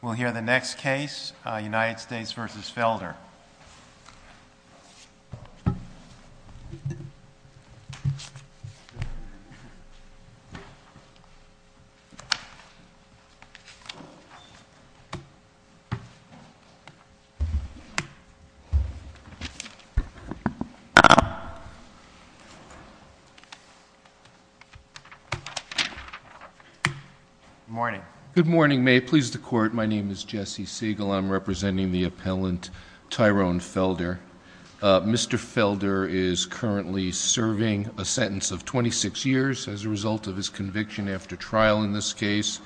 We'll hear the next case, United States v. Felder. Good morning. Good morning. May it please the Court, my name is Jesse Siegel. I'm representing the appellant Tyrone Felder. Mr. Felder is currently serving a sentence of 26 years as a result of his conviction after trial in this case.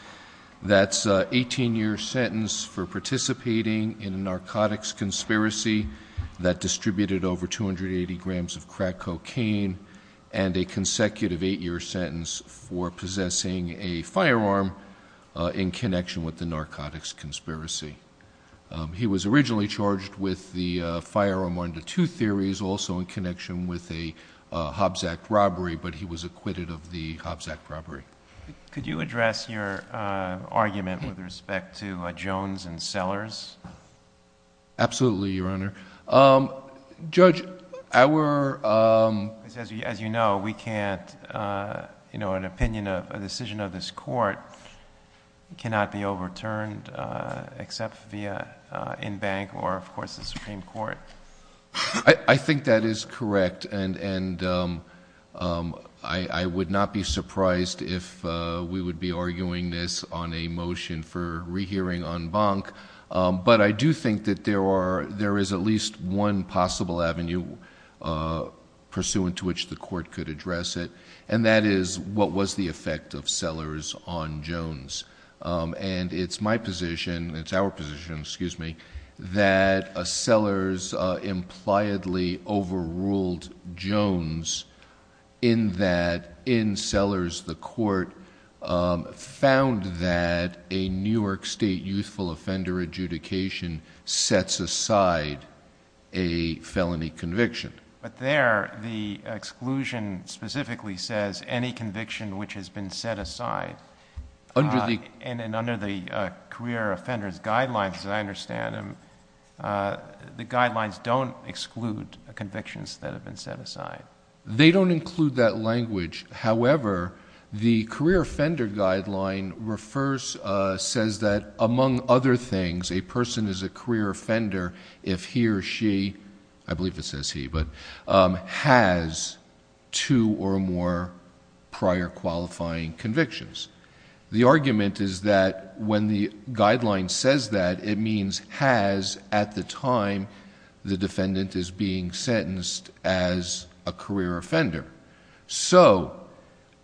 That's an 18-year sentence for participating in a narcotics conspiracy that distributed over 280 grams of crack cocaine and a consecutive 8-year sentence for possessing a firearm in connection with the narcotics conspiracy. He was originally charged with the firearm under two theories, also in connection with a Hobbs Act robbery, but he was acquitted of the Hobbs Act robbery. Could you address your argument with respect to Jones and Sellers? Absolutely, Your Honor. Judge, our... As you know, we can't... an opinion of a decision of this court cannot be overturned except via in-bank or, of course, the Supreme Court. I think that is correct, and I would not be surprised if we would be arguing I do think that there is at least one possible avenue pursuant to which the court could address it, and that is what was the effect of Sellers on Jones. It's my position, it's our position, excuse me, that Sellers impliedly overruled Jones in that, in Sellers, the court found that a New York State youthful offender adjudication sets aside a felony conviction. But there, the exclusion specifically says any conviction which has been set aside, and under the career offenders guidelines, as I understand them, the guidelines don't exclude convictions that have been set aside. They don't include that language. However, the career offender guideline refers, says that among other things, a person is a career offender if he or she, I believe it says he, but has two or more prior qualifying convictions. The argument is that when the guideline says that, it means has at the time the defendant is being sentenced as a career offender. So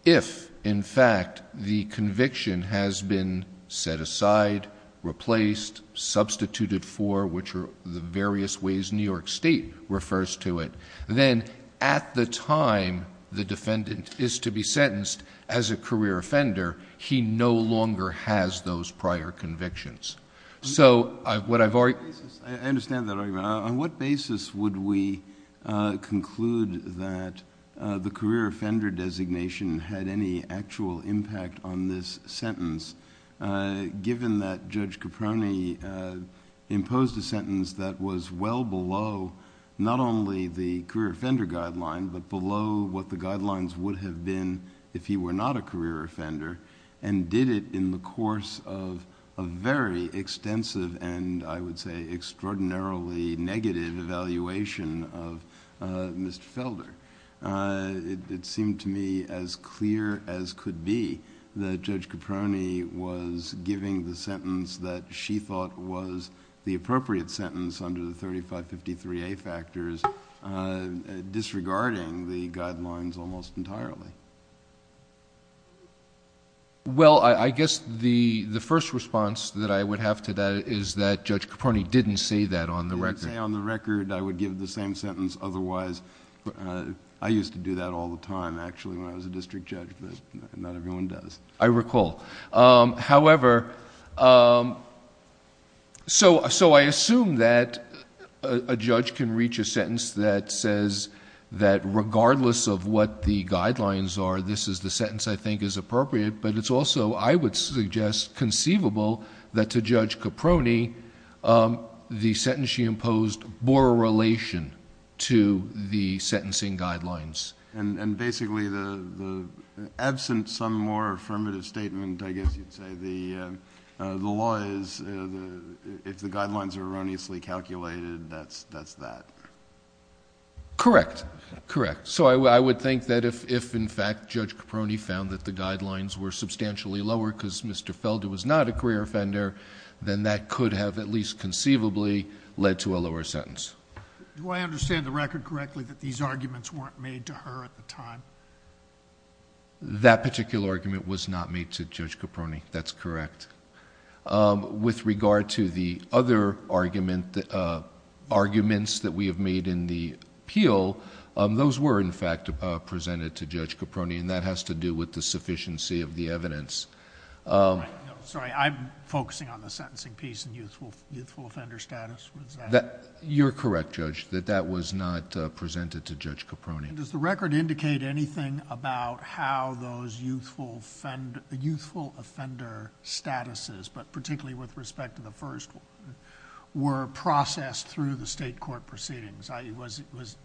if, in fact, the conviction has been set aside, replaced, substituted for, which are the various ways New York State refers to it, then at the time the defendant is to be sentenced as a career offender, he no longer has those prior convictions. So what I've already... we conclude that the career offender designation had any actual impact on this sentence given that Judge Caproni imposed a sentence that was well below, not only the career offender guideline but below what the guidelines would have been if he were not a career offender, and did it in the course of a very brief deliberation of Mr. Felder. It seemed to me as clear as could be that Judge Caproni was giving the sentence that she thought was the appropriate sentence under the 3553A factors, disregarding the guidelines almost entirely. Well I guess the first response that I would have to that is that Judge Caproni didn't say that on the record. I would give the same sentence otherwise. I used to do that all the time actually when I was a district judge, but not everyone does. I recall. However, so I assume that a judge can reach a sentence that says that regardless of what the guidelines are, this is the sentence I think is appropriate, but it's also, I would suggest, conceivable that to Judge Caproni, the sentence she imposed bore a relation to the sentencing guidelines. And basically, absent some more affirmative statement, I guess you'd say, the law is if the guidelines are erroneously calculated, that's that. Correct. Correct. So I would think that if in fact Judge Caproni found that the guidelines were substantially lower because Mr. Felder was not a career offender, then that could have at least conceivably led to a lower sentence. Do I understand the record correctly that these arguments weren't made to her at the time? That particular argument was not made to Judge Caproni. That's correct. With regard to the other arguments that we have made in the appeal, those were in fact presented to Judge Caproni and that has to do with the sufficiency of the evidence. I'm focusing on the sentencing piece and youthful offender status. You're correct, Judge, that that was not presented to Judge Caproni. Does the record indicate anything about how those youthful offender statuses, but particularly with respect to the first, were processed through the state court proceedings? Was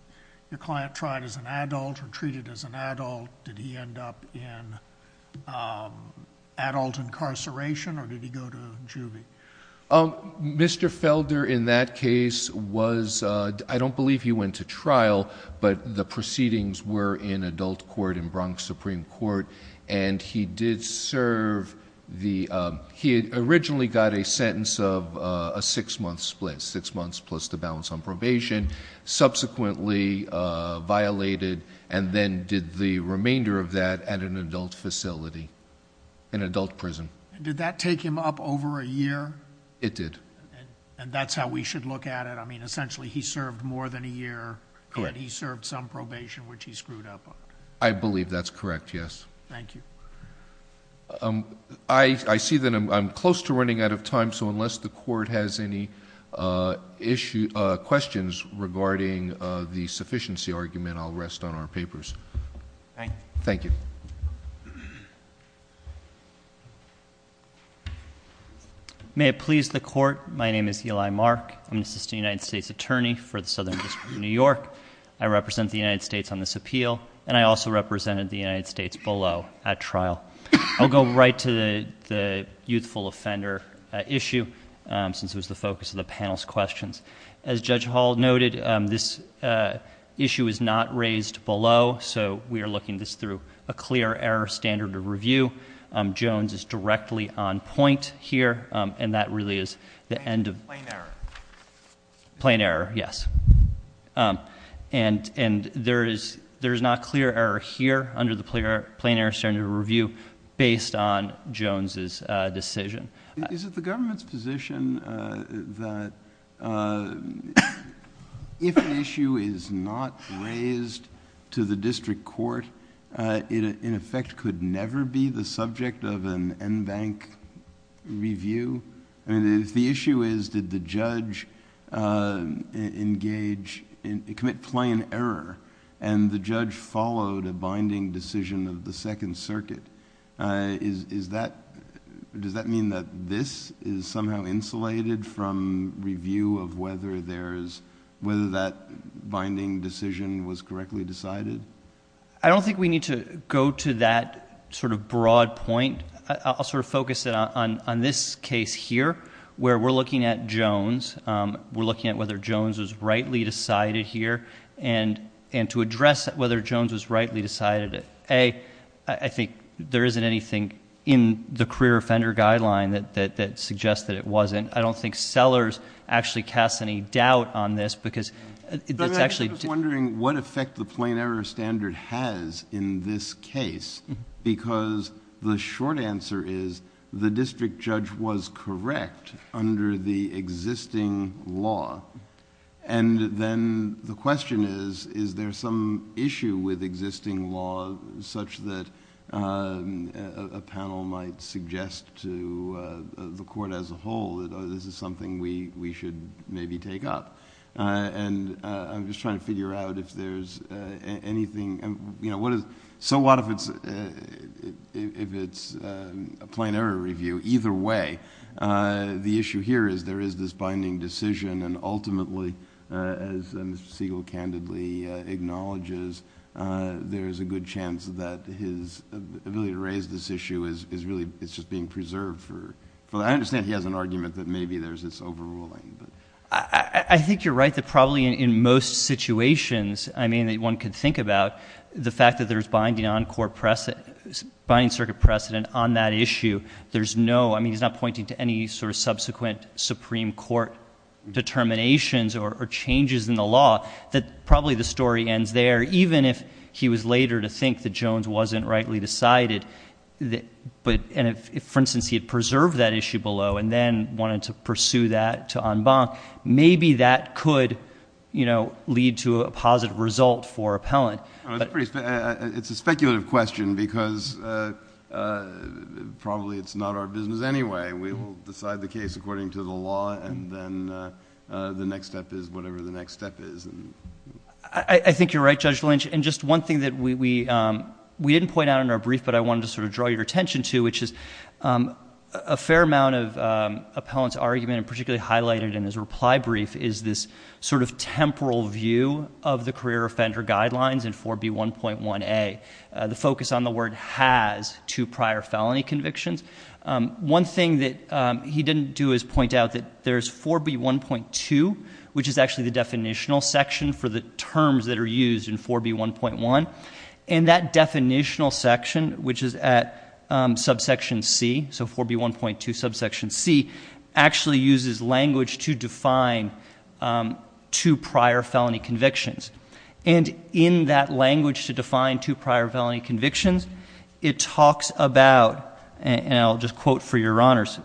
your client tried as an adult or treated as an adult? Did he end up in adult incarceration or did he go to juvie? Mr. Felder in that case was... I don't believe he went to trial, but the proceedings were in adult court in Bronx Supreme Court and he did serve the... he originally got a sentence of a six-month split, six months plus the balance on probation, subsequently violated and then did the remainder of that at an adult facility, an adult prison. Did that take him up over a year? It did. And that's how we should look at it? I mean essentially he served more than a year and he served some probation which he screwed up on? I believe that's correct, yes. Thank you. I see that I'm close to running out of time, so unless the court has any issue... questions regarding the sufficiency argument, I'll rest on our papers. Thank you. May it please the court, my name is Eli Mark. I'm an assistant United States attorney for the Southern District of New York. I represent the United States on this appeal and I also represented the United States below at trial. I'll go right to the youthful offender issue since it was the focus of the panel's questions. As Judge Hall noted, this issue is not raised below, so we are looking this through a clear error standard of review. Jones is directly on point here and that really is the end of... Plain error. Plain error, yes. And there is not clear error here under the plain error standard of review based on Jones's decision. Is it the government's position that if an issue is not raised to the district court, in effect could never be the subject of an en banc review? If the issue is, did the judge engage... commit plain error and the judge followed a binding decision of the Second Circuit, is that... does that mean that this is somehow insulated from review of whether there's... whether that binding decision was correctly decided? I don't think we need to go to that sort of broad point. I'll sort of focus it on this case here where we're looking at Jones. We're looking at whether Jones was rightly decided here and to address whether Jones was rightly decided. A, I think there isn't anything in the clear offender guideline that suggests that it wasn't. I don't think Sellers actually casts any doubt on this because it's actually... I'm actually just wondering what effect the plain error standard has in this case because the short answer is the district judge was correct under the existing law. And then the question is, is there some issue with existing law such that a panel might suggest to the court as a whole that this is something we should maybe take up? And I'm just trying to figure out if there's anything... so what if it's a plain error review? Either way, the issue here is there is this binding decision and ultimately, as Mr. Siegel candidly acknowledges, there's a good chance that his ability to raise this issue is really... it's just being preserved for... I understand he has an argument that maybe there's this overruling, but... I think you're right that probably in most situations, I mean, that one could think about, the fact that there's binding circuit precedent on that issue, there's no... I mean, he's not pointing to any sort of subsequent Supreme Court determinations or changes in the law, that probably the story ends there. Even if he was later to think that Jones wasn't rightly decided, but... and if, for instance, he had preserved that issue below and then wanted to pursue that to en banc, maybe that could, you know, lead to a positive result for appellant. It's a speculative question because probably it's not our business anyway. We will decide the case according to the law and then the next step is whatever the next step is. I think you're right, Judge Lynch, and just one thing that we didn't point out in our brief, but I wanted to sort of draw your attention to, which is a fair amount of appellant's argument and particularly highlighted in his reply brief is this sort of temporal view of the career offender guidelines in 4B1.1a. The focus on the word has two prior felony convictions. One thing that he didn't do is point out that there's 4B1.2, which is actually the definitional section for the terms that are used in 4B1.1, and that definitional section, which is at subsection c, so 4B1.2 subsection c, actually uses language to define two prior felony convictions. And in that language to define two prior felony convictions, it talks about, and I'll just quote for your honors,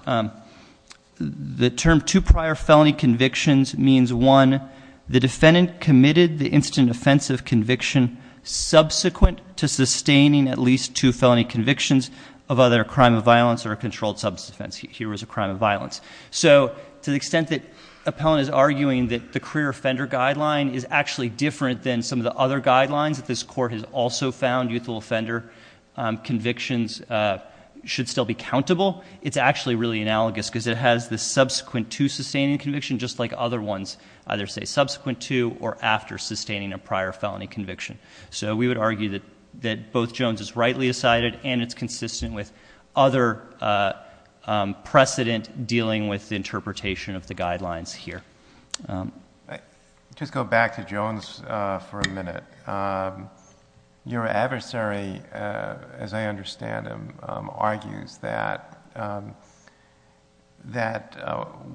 the term two prior felony convictions means, one, the defendant committed the instant offensive conviction subsequent to sustaining at least two felony convictions of either a crime of violence or a controlled substance offense. Here was a crime of violence. So to the extent that appellant is arguing that the career offender guideline is actually different than some of the other guidelines that this court has also found youthful offender convictions should still be countable, it's actually really analogous because it has the subsequent to sustaining conviction just like other ones either say subsequent to or after sustaining a prior felony conviction. So we would argue that both Jones is rightly decided and it's precedent dealing with interpretation of the guidelines here. Just go back to Jones for a minute. Your adversary, as I understand him, argues that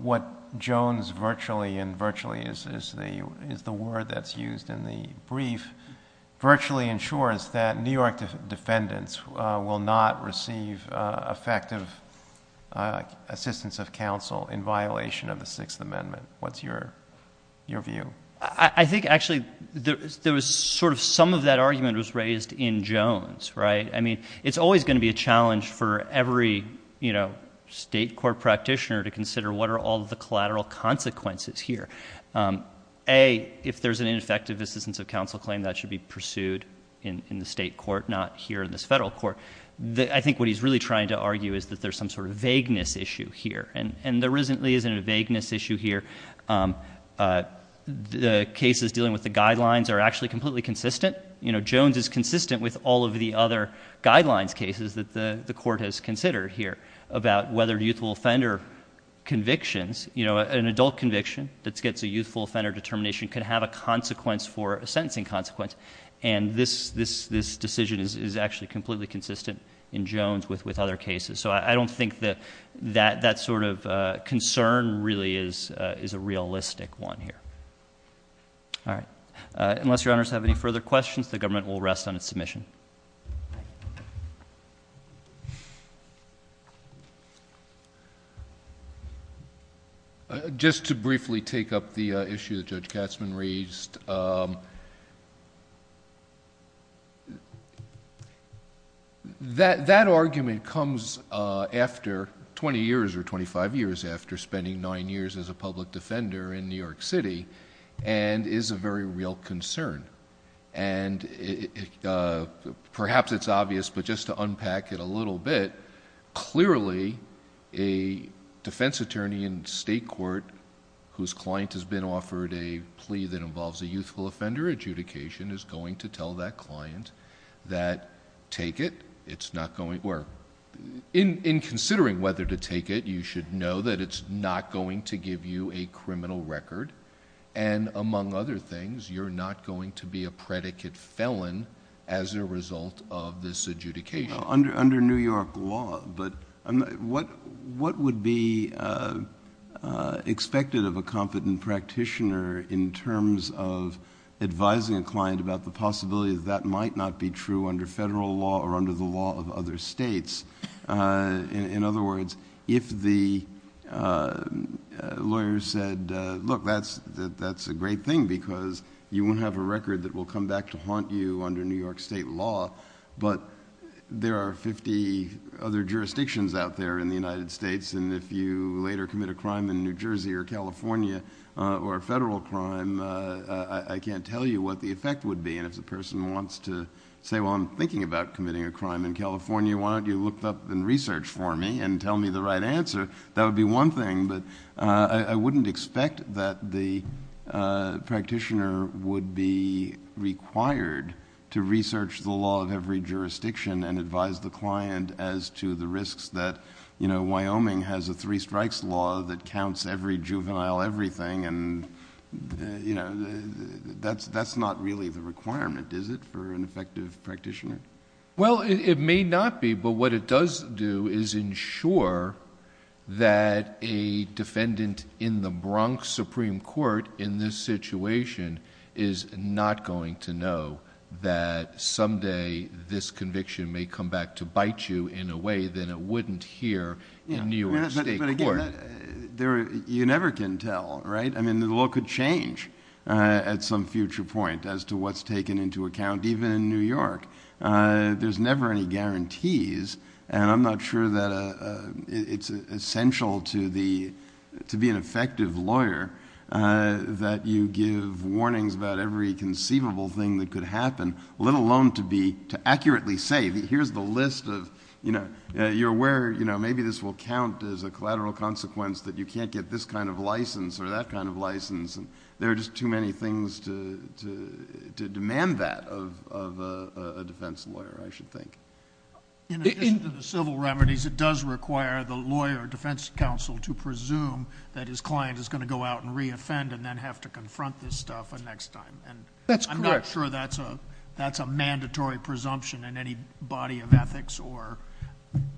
what Jones virtually, and virtually is the word that's used in the brief, virtually ensures that New York defendants will not receive effective assistance of counsel in violation of the Sixth Amendment. What's your view? I think actually there was sort of some of that argument was raised in Jones, right? I mean, it's always going to be a challenge for every state court practitioner to consider what are all the collateral consequences here. A, if there's an ineffective assistance of counsel claim that should be pursued in the state court, not here in this federal court. I think what he's really trying to argue is that there's some sort of vagueness issue here. And there really isn't a vagueness issue here. The cases dealing with the guidelines are actually completely consistent. Jones is consistent with all of the other guidelines cases that the court has considered here about whether youthful offender convictions, you know, an adult conviction that gets a youthful offender determination could have a consequence for a sentencing consequence. And this decision is actually completely consistent in Jones with other cases. So I don't think that that sort of concern really is a realistic one here. All right. Unless your honors have any further questions, the government will rest on its submission....... Just to briefly take up the issue that Judge Katzmann raised. That argument comes after twenty years or twenty-five years after spending nine years as a public defender in New York City and is a very real concern. And perhaps it's obvious, but just to unpack it a little bit, clearly a defense attorney in state court whose client has been offered a plea that involves a youthful offender adjudication is going to tell that client that take it. In considering whether to take it, you should know that it's not going to give you a criminal record. And among other things, you're not going to be a predicate felon as a result of this adjudication. Under New York law, but what would be expected of a competent practitioner in terms of advising a client about the possibility that that might not be true under federal law or under the law of other states? In other words, if the lawyer said, look, that's a great thing because you won't have a record that will come back to haunt you under New York state law, but there are fifty other jurisdictions out there in the United States and if you later commit a crime in New Jersey or California or a federal crime, I can't tell you what the effect would be. And if the person wants to say, well, I'm thinking about committing a crime in California, why don't you look up and research for me and tell me the right answer? That would be one thing, but I wouldn't expect that the practitioner would be required to research the law of every jurisdiction and advise the client as to the risks that Wyoming has a three strikes law that counts every juvenile everything and that's not really the requirement, is it, for an effective practitioner? Well, it may not be, but what it does do is ensure that a defendant in the Bronx Supreme Court in this situation is not going to know that someday this conviction may come back to bite you in a way that it wouldn't here in New York state court. But again, you never can tell, right? I mean, the law could change at some future point as to what's taken into account even in New York. There's never any guarantees and I'm not sure that it's essential to be an effective lawyer that you give warnings about every conceivable thing that could happen, let alone to accurately say, here's the list of... you're aware maybe this will count as a collateral consequence that you can't get this kind of license or that kind of license and there are just too many things to demand that of a defense lawyer, I should think. In addition to the civil remedies, it does require the lawyer defense counsel to presume that his client is going to go out and re-offend and then have to confront this stuff the next time. That's correct. I'm not sure that's a mandatory presumption in any body of ethics or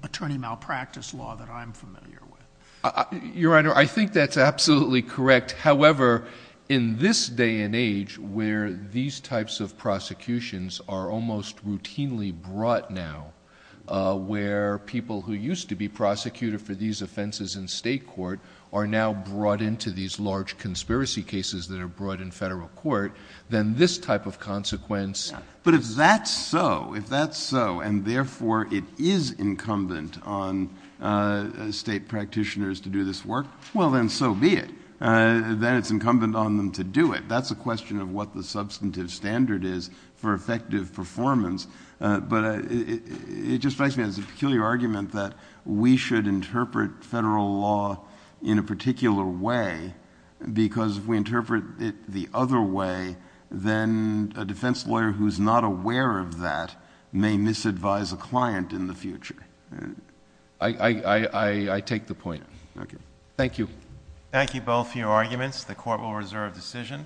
attorney malpractice law that I'm familiar with. Your Honor, I think that's absolutely correct. However, in this day and age where these types of prosecutions are almost routinely brought now, where people who used to be prosecuted for these offenses in state court are now brought into these large conspiracy cases that are brought in federal court, then this type of consequence... But if that's so, and therefore it is incumbent on state practitioners to do this work, well, then so be it. Then it's incumbent on them to do it. That's a question of what the substantive standard is for effective performance, but it just strikes me as a peculiar argument that we should interpret federal law in a particular way because if we interpret it the other way, then a defense lawyer who's not aware of that may misadvise a client in the future. I take the point. Thank you. Thank you both for your arguments. The court will reserve decision.